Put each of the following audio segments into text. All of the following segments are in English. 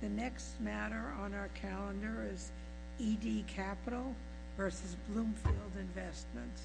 The next matter on our calendar is E.D. Capital v. Bloomfield Investments.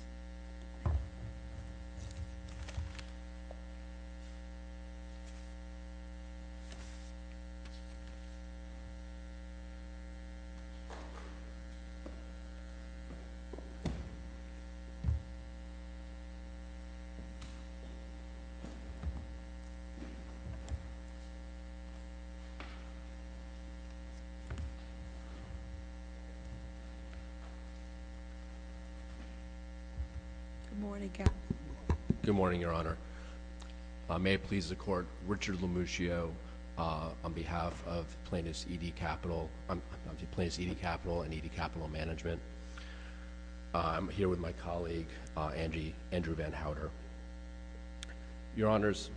Good morning, Your Honor. May it please the Court, Richard Lomuccio on behalf of Plaintiffs' E.D. Capital and E.D. Capital Management. I'm here with my colleague, Andrew Van Howder. Your Honors,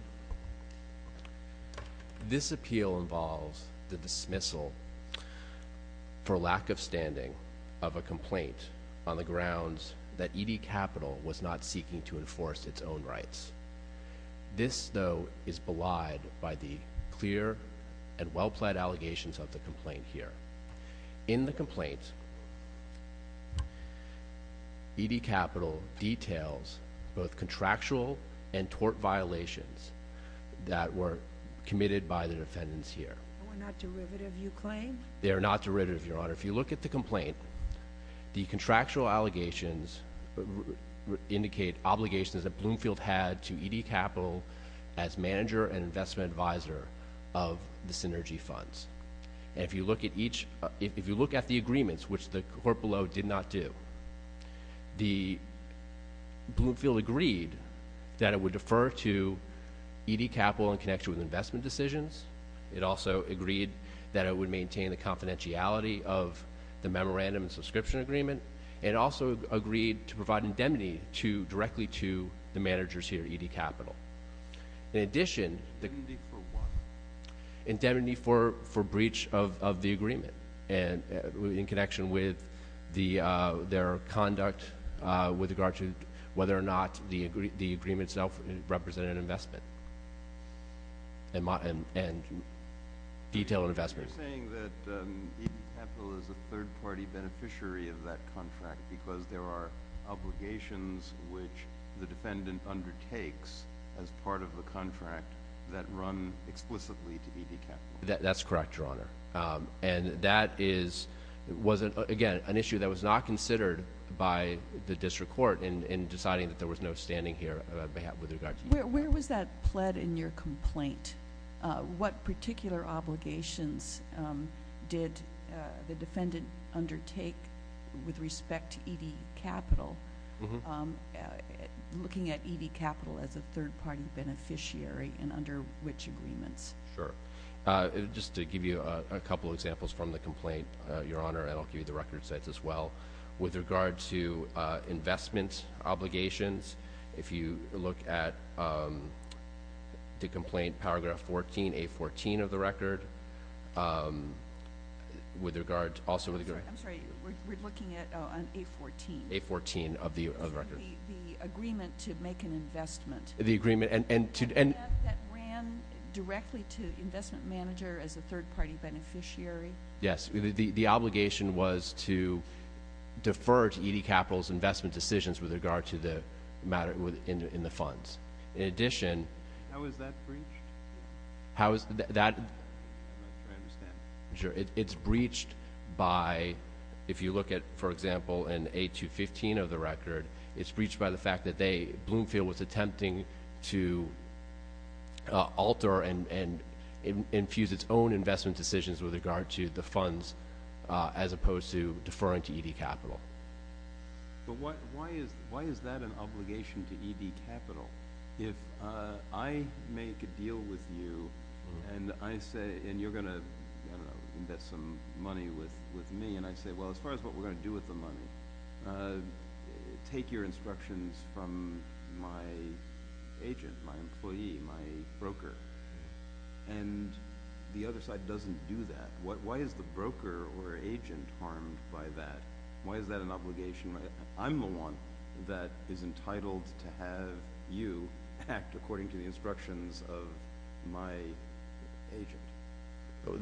this appeal involves the dismissal, for lack of standing, of a complaint on the grounds that E.D. Capital was not seeking to enforce its own rights. This, though, is belied by the clear and well-plaid allegations of the complaint here. In the complaint, E.D. Capital was seeking to enforce its own rights. The complaint is a direct violation of the contractual and tort violations that were committed by the defendants here. They were not derivative, you claim? They are not derivative, Your Honor. If you look at the complaint, the contractual allegations indicate obligations that Bloomfield had to E.D. Capital as manager and investment advisor of the Synergy Funds. And if you look at each—if you look at the agreements, which the court below did not do, the—Bloomfield agreed that it would defer to E.D. Capital in connection with investment decisions. It also agreed that it would maintain the confidentiality of the memorandum and subscription agreement. It also agreed to provide indemnity to—directly to the managers here at E.D. Capital. In addition, the— Indemnity for what? In connection with their conduct with regard to whether or not the agreement itself represented investment and detailed investment. You're saying that E.D. Capital is a third-party beneficiary of that contract because there are obligations which the defendant undertakes as part of the contract that run explicitly to E.D. Capital. That's correct, Your Honor. And that is—was, again, an issue that was not considered by the district court in deciding that there was no standing here with regard to E.D. Capital. Where was that pled in your complaint? What particular obligations did the defendant undertake with respect to E.D. Capital, looking at E.D. Capital as a third-party beneficiary and under which agreements? Sure. Just to give you a couple of examples from the complaint, Your Honor, and I'll give you the record sets as well. With regard to investment obligations, if you look at the complaint, paragraph 14, A14 of the record, with regard to— I'm sorry. We're looking at A14. A14 of the record. The agreement to make an investment. The agreement and— That ran directly to the investment manager as a third-party beneficiary? Yes. The obligation was to defer to E.D. Capital's investment decisions with regard to the matter in the funds. In addition— How is that breached? How is that— I don't understand. Sure. It's breached by—if you look at, for example, in A215 of the record, it's breached by the fact that Bloomfield was attempting to alter and infuse its own investment decisions with regard to the funds as opposed to deferring to E.D. Capital. But why is that an obligation to E.D. Capital? If I make a deal with you and I say—and you're going to, I don't know, invest some money with me, and I say, well, as far as what we're going to do with the money, take your instructions from my agent, my employee, my broker. And the other side doesn't do that. Why is the broker or agent harmed by that? Why is that an obligation? I'm the one that is entitled to have you act according to the instructions of my agent.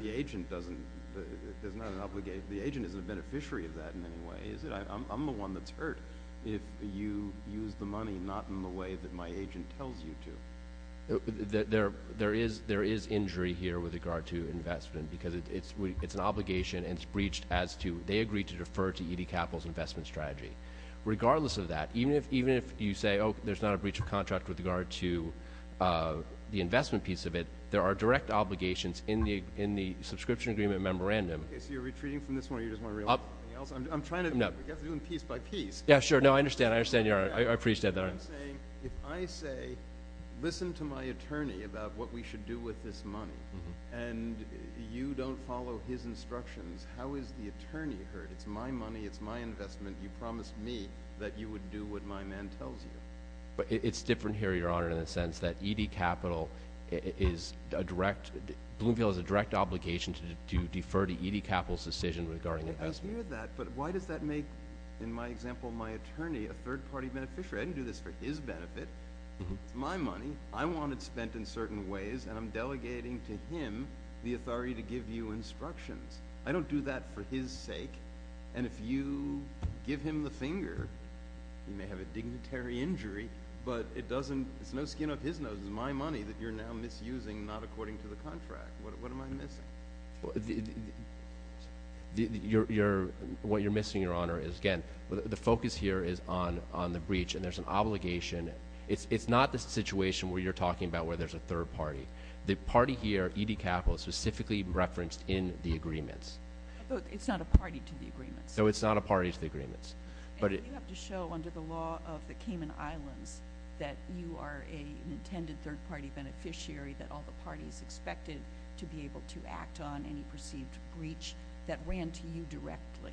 The agent doesn't—there's not an obligation—the agent isn't a beneficiary of that in any way, is it? I'm the one that's hurt if you use the money not in the way that my agent tells you to. There is injury here with regard to investment because it's an obligation and it's breached as to—they agreed to defer to E.D. Capital's investment strategy. Regardless of that, even if you say, oh, there's not a breach of contract with regard to the investment piece of it, there are direct obligations in the subscription agreement memorandum. Okay, so you're retreating from this one or you just want to realize something else? I'm trying to—you have to do them piece by piece. Yeah, sure. No, I understand. I understand. I appreciate that. I'm saying, if I say, listen to my attorney about what we should do with this money, and you don't follow his instructions, how is the attorney hurt? It's my money. It's my investment. You promised me that you would do what my man tells you. It's different here, Your Honor, in the sense that E.D. Capital is a direct—Bloomfield has a direct obligation to defer to E.D. Capital's decision regarding investment. I hear that, but why does that make, in my example, my attorney a third-party beneficiary? I didn't do this for his benefit. It's my money. I want it spent in certain ways, and I'm delegating to him the authority to give you instructions. I don't do that for his It's no skin off his nose. It's my money that you're now misusing, not according to the contract. What am I missing? What you're missing, Your Honor, is, again, the focus here is on the breach, and there's an obligation—it's not the situation where you're talking about where there's a third-party. The party here, E.D. Capital, is specifically referenced in the agreements. But it's not a party to the agreements. No, it's not a party to the agreements. And you have to show, under the law of the Cayman Islands, that you are an intended third-party beneficiary, that all the parties expected to be able to act on any perceived breach that ran to you directly.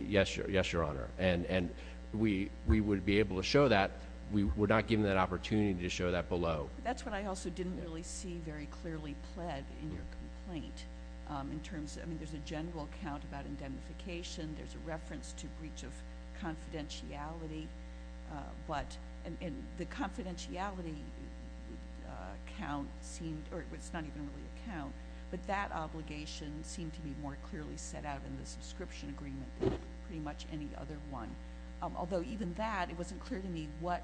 Yes, Your Honor. And we would be able to show that. We're not given that opportunity to show that below. That's what I also didn't really see very clearly pled in your complaint. I mean, there's a general account about indemnification. There's a reference to breach of confidentiality. And the confidentiality count seemed—or it's not even really a count. But that obligation seemed to be more clearly set out in the subscription agreement than pretty much any other one. Although, even that, it wasn't clear to me what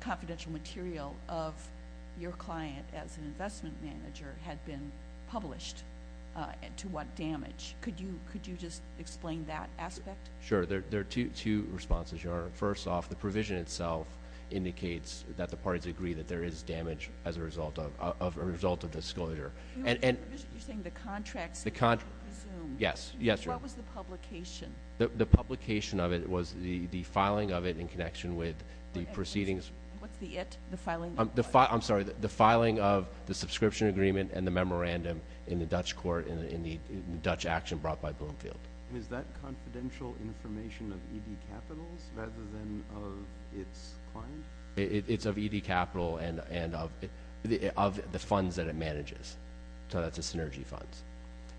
confidential material of your client as an investment manager had been published and to what damage. Could you just explain that aspect? Sure. There are two responses, Your Honor. First off, the provision itself indicates that the parties agree that there is damage as a result of disclosure. You're saying the contracts— Yes. What was the publication? The publication of it was the filing of it in connection with the proceedings— What's the it? The filing of what? I'm sorry. The filing of the subscription agreement and the memorandum in the Dutch court in the Dutch action brought by Bloomfield. Is that confidential information of ED Capitals rather than of its client? It's of ED Capital and of the funds that it manages. So that's the Synergy Funds.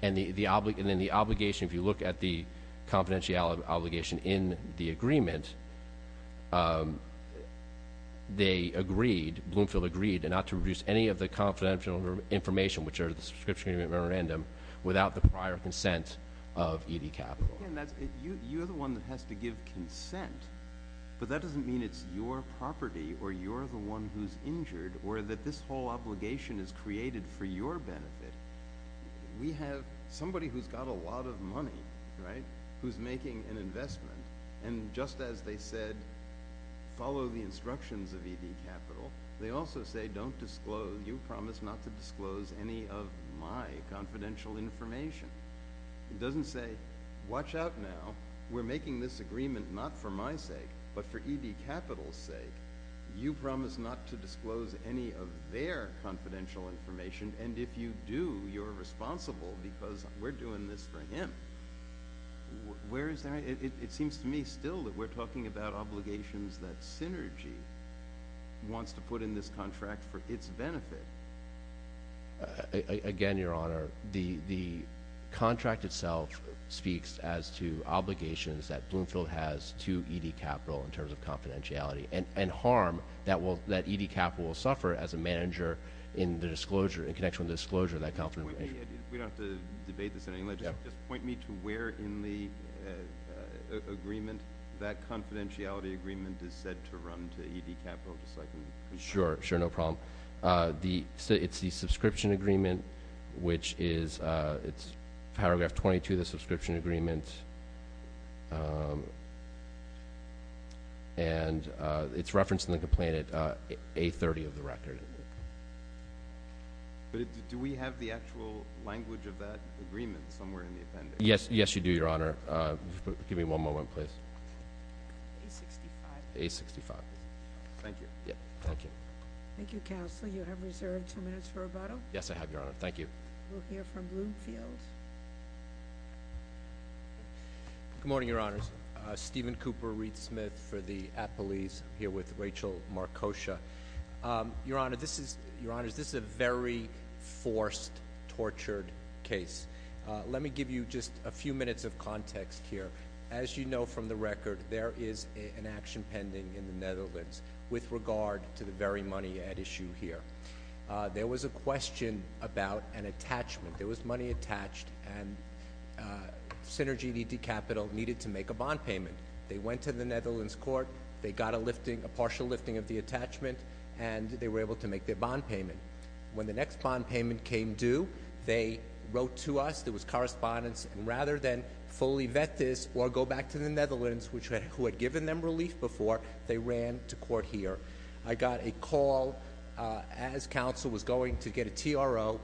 And then the obligation, if you look at the confidentiality obligation in the agreement, they agreed, Bloomfield agreed, not to produce any of the confidential information, which are the subscription agreement and memorandum, without the prior consent of ED Capital. You're the one that has to give consent, but that doesn't mean it's your property or you're the one who's injured or that this whole obligation is created for your benefit. We have somebody who's got a lot of money, right, who's making an investment. And just as they said, follow the instructions of ED Capital, they also say, don't disclose—you promise not to disclose any of my confidential information. It doesn't say, watch out now. We're making this agreement not for my sake, but for ED Capital's sake. You promise not to disclose any of their confidential information, and if you do, you're responsible because we're doing this for him. Where is that? It seems to me still that we're talking about obligations that Synergy wants to put in this contract for its benefit. Again, Your Honor, the contract itself speaks as to obligations that Bloomfield has to ED Capital in terms of confidentiality and harm that ED Capital will suffer as a manager in the disclosure, in connection with the disclosure of that confidential— We don't have to debate this in any way. Just point me to where in the agreement that confidentiality agreement is said to run to ED Capital, just so I can— Sure, sure, no problem. It's the subscription agreement, which is—it's paragraph 22 of the subscription agreement, and it's referenced in the complaint at A30 of the record. But do we have the actual language of that agreement somewhere in the appendix? Yes, yes, you do, Your Honor. Give me one moment, please. A65. A65. Thank you. Thank you. Thank you, Counselor. You have reserved two minutes for rebuttal? Yes, I have, Your Honor. Thank you. We'll hear from Bloomfield. Good morning, Your Honors. Stephen Cooper, Reed Smith for the apolice, here with Rachel Markosha. Your Honors, this is a very forced, tortured case. Let me give you just a few minutes of context here. As you know from the record, there is an action pending in the Netherlands with regard to the very money at issue here. There was a question about an attachment. There was money attached, and Synergy and ED Capital needed to make a bond payment. They went to the Netherlands court, they got a partial lifting of the attachment, and they were able to make their bond payment. When the next bond payment came due, they wrote to us, there was correspondence, and rather than fully vet this or go back to the Netherlands, who had given them relief before, they ran to court here. I got a call as counsel was going to get a TRO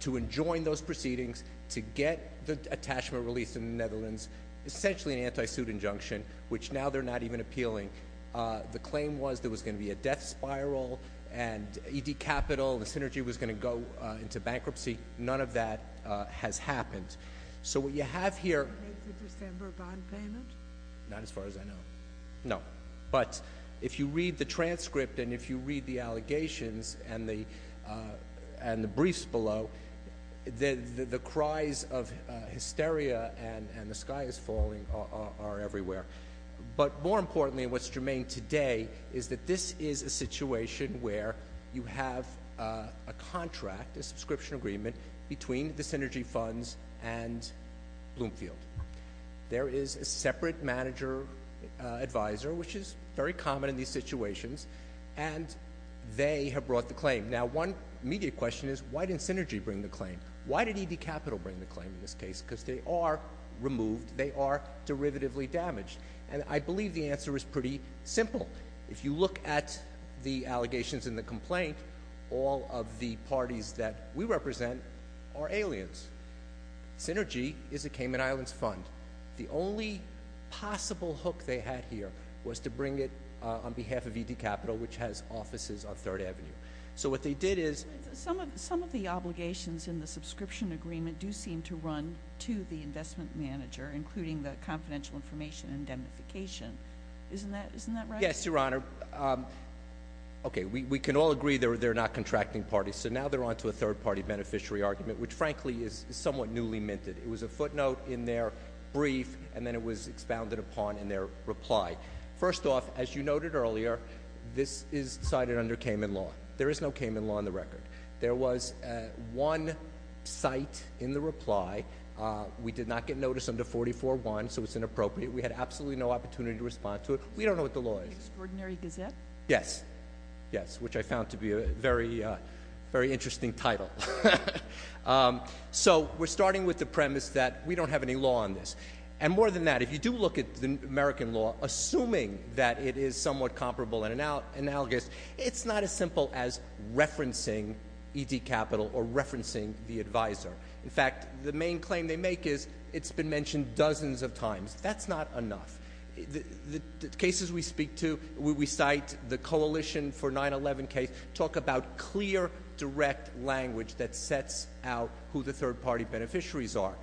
to enjoin those proceedings to get the attachment released in the Netherlands, essentially an anti-suit injunction, which now they're not even appealing. The claim was there was going to be a death spiral, and ED Capital and Synergy was going to go into bankruptcy. None of that has happened. So what you have here- Did they make the December bond payment? Not as far as I know. No. But if you read the transcript and if you read the allegations and the briefs below, the cries of hysteria and the sky is falling are everywhere. But more importantly, what's germane today is that this is a situation where you have a contract, a subscription agreement, between the Synergy funds and Bloomfield. There is a separate manager advisor, which is very common in these situations, and they have brought the claim. Now, one immediate question is, why didn't Synergy bring the claim? Why did ED Capital bring the claim in this case? Because they are removed. They are derivatively damaged. And I believe the answer is pretty simple. If you look at the allegations and the complaint, all of the parties that we represent are aliens. Synergy is a Cayman Islands fund. The only possible hook they had here was to bring it on behalf of ED Capital, which has offices on 3rd Avenue. So what they did is- Some of the obligations in the subscription agreement do seem to run to the investment manager, including the confidential information indemnification. Isn't that right? Yes, Your Honor. Okay, we can all agree they're not contracting parties. So now they're on to a third-party beneficiary argument, which, frankly, is somewhat newly minted. It was a footnote in their brief, and then it was expounded upon in their reply. First off, as you noted earlier, this is cited under Cayman law. There is no Cayman law on the record. There was one cite in the reply. We did not get notice under 44-1, so it's inappropriate. We had absolutely no opportunity to respond to it. We don't know what the law is. The Extraordinary Gazette? Yes, yes, which I found to be a very interesting title. So we're starting with the premise that we don't have any law on this. And more than that, if you do look at the American law, assuming that it is somewhat comparable and analogous, it's not as simple as referencing ED Capital or referencing the advisor. In fact, the main claim they make is it's been mentioned dozens of times. That's not enough. The cases we cite, the coalition for 9-11 case, talk about clear, direct language that sets out who the third-party beneficiaries are.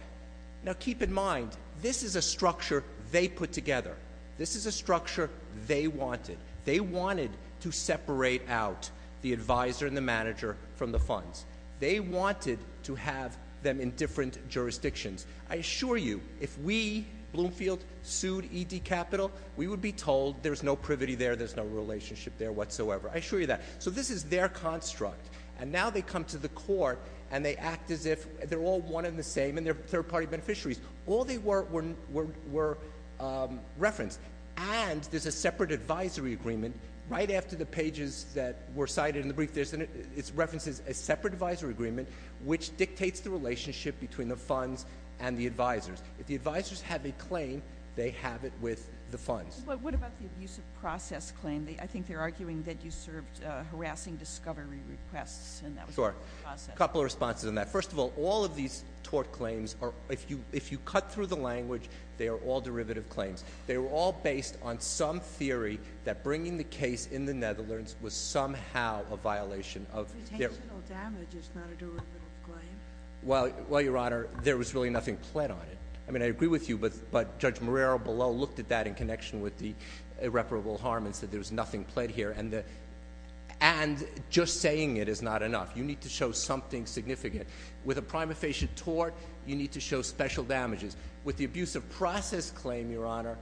Now keep in mind, this is a structure they put together. This is a structure they wanted. They wanted to separate out the advisor and the manager from the funds. They wanted to have them in different jurisdictions. I assure you, if we, Bloomfield, sued ED Capital, we would be told there's no privity there, there's no relationship there whatsoever. I assure you that. So this is their construct. And now they come to the court, and they act as if they're all one and the same, and they're third-party beneficiaries. All they were referenced. And there's a separate advisory agreement right after the pages that were cited in the brief. It references a separate advisory agreement, which dictates the relationship between the funds and the advisors. If the advisors have a claim, they have it with the funds. But what about the abuse of process claim? I think they're arguing that you served harassing discovery requests, and that was abuse of process. A couple of responses on that. First of all, all of these tort claims are, if you cut through the language, they are all derivative claims. They were all based on some theory that bringing the case in the Netherlands was somehow a violation of their. Detentional damage is not a derivative claim. Well, Your Honor, there was really nothing pled on it. I mean, I agree with you, but Judge Marrero below looked at that in connection with the irreparable harm and said there was nothing pled here. And just saying it is not enough. You need to show something significant. With a prima facie tort, you need to show special damages. With the abuse of process claim, Your Honor,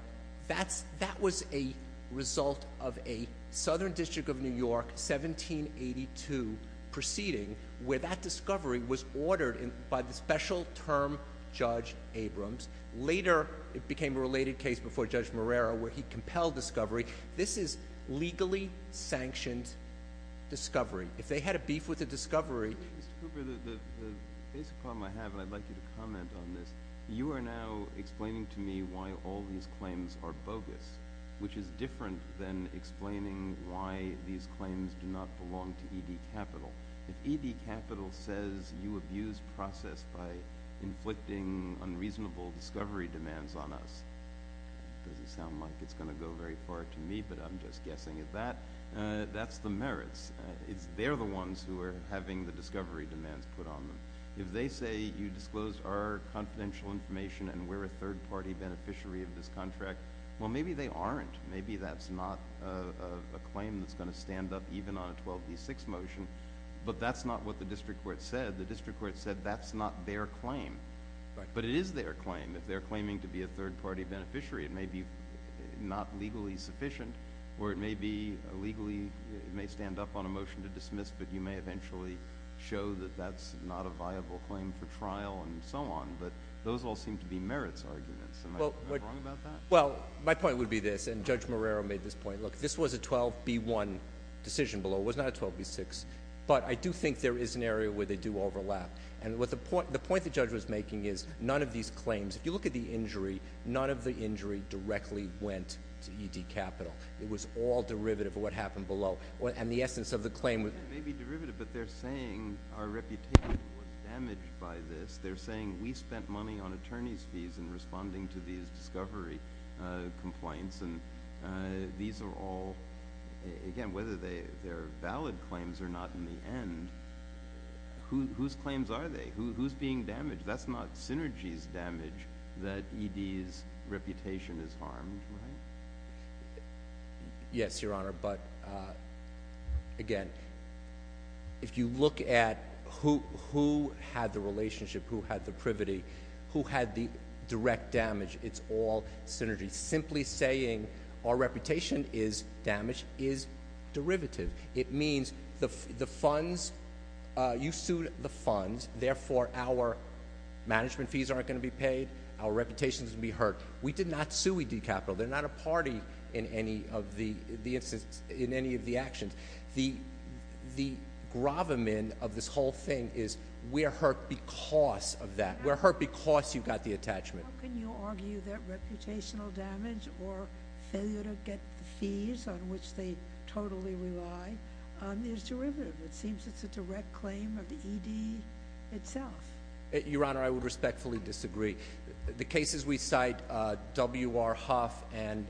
that was a result of a Southern District of New York 1782 proceeding where that discovery was ordered by the special term Judge Abrams. Later, it became a related case before Judge Marrero where he compelled discovery. This is legally sanctioned discovery. If they had a beef with the discovery. Mr. Cooper, the basic problem I have, and I'd like you to comment on this, you are now explaining to me why all these claims are bogus, which is different than explaining why these claims do not belong to ED Capital. If ED Capital says you abuse process by inflicting unreasonable discovery demands on us, it doesn't sound like it's going to go very far to me, but I'm just guessing. That's the merits. They're the ones who are having the discovery demands put on them. If they say you disclosed our confidential information and we're a third-party beneficiary of this contract, well, maybe they aren't. Maybe that's not a claim that's going to stand up even on a 12B6 motion, but that's not what the district court said. The district court said that's not their claim. But it is their claim. If they're claiming to be a third-party beneficiary, it may be not legally sufficient or it may stand up on a motion to dismiss, but you may eventually show that that's not a viable claim for trial and so on. But those all seem to be merits arguments. Am I wrong about that? Well, my point would be this, and Judge Marrero made this point. Look, this was a 12B1 decision below. It was not a 12B6. But I do think there is an area where they do overlap. And the point the judge was making is none of these claims, if you look at the injury, directly went to ED Capital. It was all derivative of what happened below. And the essence of the claim was— It may be derivative, but they're saying our reputation was damaged by this. They're saying we spent money on attorney's fees in responding to these discovery complaints. And these are all, again, whether they're valid claims or not in the end, whose claims are they? Who's being damaged? That's not Synergy's damage that ED's reputation is harmed, right? Yes, Your Honor. But, again, if you look at who had the relationship, who had the privity, who had the direct damage, it's all Synergy. Simply saying our reputation is damaged is derivative. It means the funds—you sued the funds. Therefore, our management fees aren't going to be paid. Our reputation is going to be hurt. We did not sue ED Capital. They're not a party in any of the actions. The gravamen of this whole thing is we're hurt because of that. We're hurt because you got the attachment. How can you argue that reputational damage or failure to get the fees, on which they totally rely, is derivative? It seems it's a direct claim of the ED itself. Your Honor, I would respectfully disagree. The cases we cite, W.R. Huff and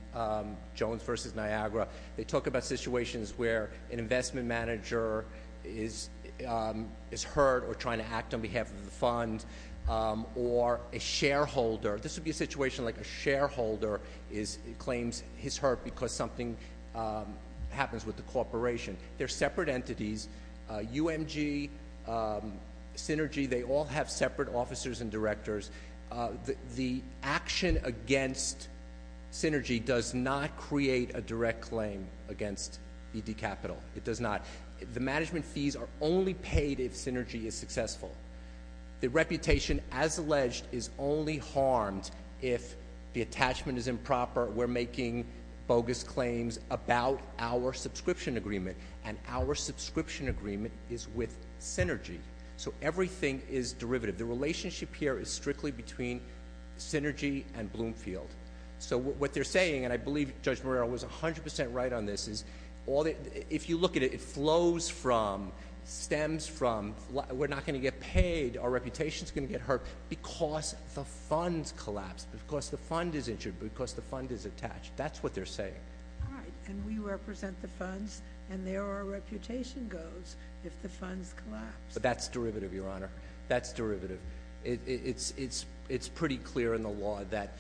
Jones v. Niagara, they talk about situations where an investment manager is hurt or trying to act on behalf of the fund or a shareholder. This would be a situation like a shareholder claims he's hurt because something happens with the corporation. They're separate entities. UMG, Synergy, they all have separate officers and directors. The action against Synergy does not create a direct claim against ED Capital. It does not. The management fees are only paid if Synergy is successful. The reputation, as alleged, is only harmed if the attachment is improper. We're making bogus claims about our subscription agreement, and our subscription agreement is with Synergy. So everything is derivative. The relationship here is strictly between Synergy and Bloomfield. So what they're saying, and I believe Judge Morrell was 100% right on this, is if you look at it, it flows from, stems from, we're not going to get paid, our reputation's going to get hurt because the fund's collapsed, because the fund is injured, because the fund is attached. That's what they're saying. All right. And we represent the funds, and there our reputation goes if the funds collapse. That's derivative, Your Honor. That's derivative. It's pretty clear in the law that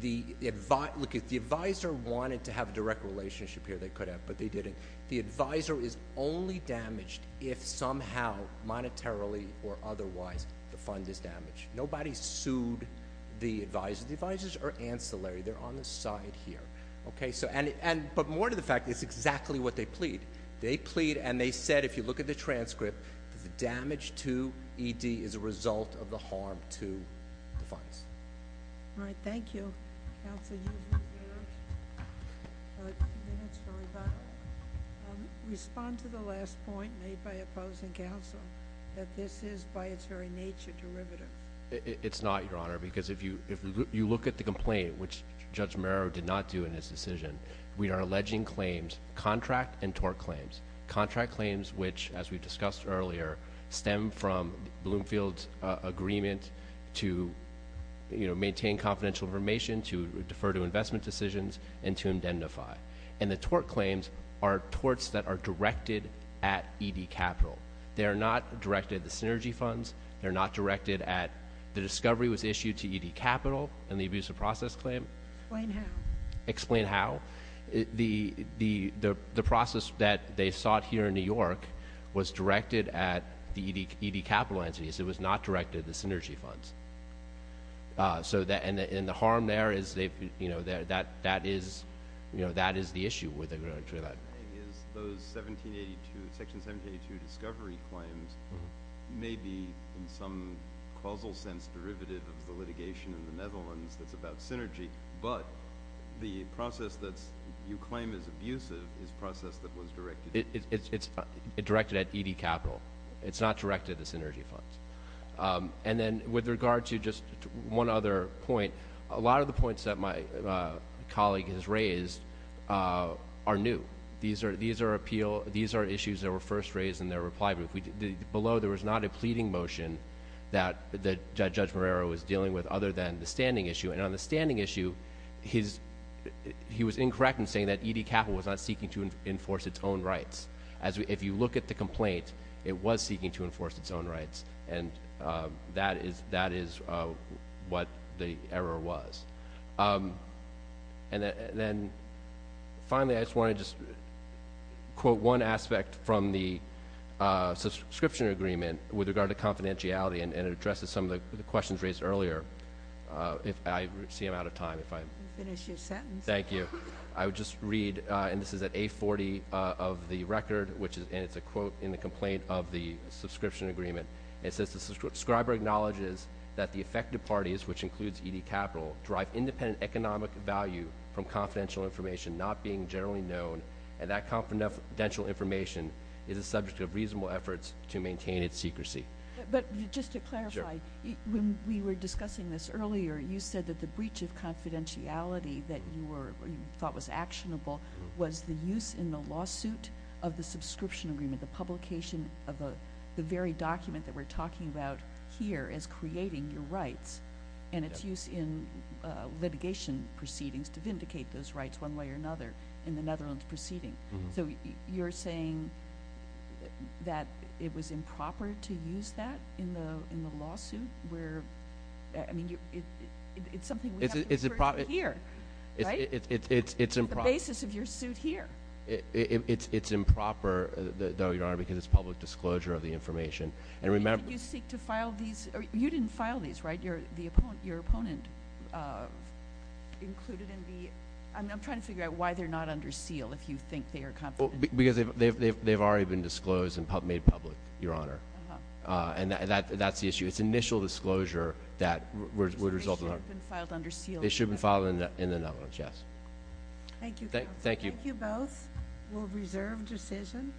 the adviser wanted to have a direct relationship here. They could have, but they didn't. The adviser is only damaged if somehow monetarily or otherwise the fund is damaged. Nobody sued the adviser. The advisers are ancillary. They're on the side here. But more to the fact, it's exactly what they plead. They plead, and they said, if you look at the transcript, that the damage to ED is a result of the harm to the funds. All right. Thank you. Counsel, you have a few minutes for rebuttal. Respond to the last point made by opposing counsel, that this is by its very nature derivative. It's not, Your Honor, because if you look at the complaint, which Judge Morrell did not do in his decision, we are alleging claims, contract and tort claims. Contract claims, which, as we discussed earlier, stem from Bloomfield's agreement to maintain confidential information, to defer to investment decisions, and to indentify. And the tort claims are torts that are directed at ED Capital. They are not directed at the Synergy Funds. They're not directed at the discovery was issued to ED Capital and the abuse of process claim. Explain how. Explain how. The process that they sought here in New York was directed at the ED Capital entities. It was not directed at the Synergy Funds. And the harm there is they've, you know, that is, you know, that is the issue with the grand jury law. Those 1782, Section 1782 discovery claims may be, in some causal sense, derivative of the litigation in the Netherlands that's about Synergy. But the process that you claim is abusive is a process that was directed. It's directed at ED Capital. It's not directed at the Synergy Funds. And then with regard to just one other point, a lot of the points that my colleague has raised are new. These are issues that were first raised in their reply brief. Below, there was not a pleading motion that Judge Morrell was dealing with other than the standing issue. And on the standing issue, he was incorrect in saying that ED Capital was not seeking to enforce its own rights. If you look at the complaint, it was seeking to enforce its own rights. And that is what the error was. And then finally, I just want to just quote one aspect from the subscription agreement with regard to confidentiality, and it addresses some of the questions raised earlier. I see I'm out of time. Finish your sentence. Thank you. I would just read, and this is at A40 of the record, and it's a quote in the complaint of the subscription agreement. It says, the subscriber acknowledges that the affected parties, which includes ED Capital, drive independent economic value from confidential information not being generally known, and that confidential information is a subject of reasonable efforts to maintain its secrecy. But just to clarify, when we were discussing this earlier, you said that the breach of confidentiality that you thought was actionable was the use in the lawsuit of the subscription agreement, the publication of the very document that we're talking about here as creating your rights, and its use in litigation proceedings to vindicate those rights one way or another in the Netherlands proceeding. So you're saying that it was improper to use that in the lawsuit? I mean, it's something we have to refer to here, right? It's improper. It's the basis of your suit here. It's improper, though, Your Honor, because it's public disclosure of the information. You didn't file these, right? I'm trying to figure out why they're not under seal, if you think they are confidential. Because they've already been disclosed and made public, Your Honor. And that's the issue. It's initial disclosure that would result in – So they should have been filed under seal? They should have been filed in the Netherlands, yes. Thank you, counsel. Thank you. Thank you both. We'll reserve decision.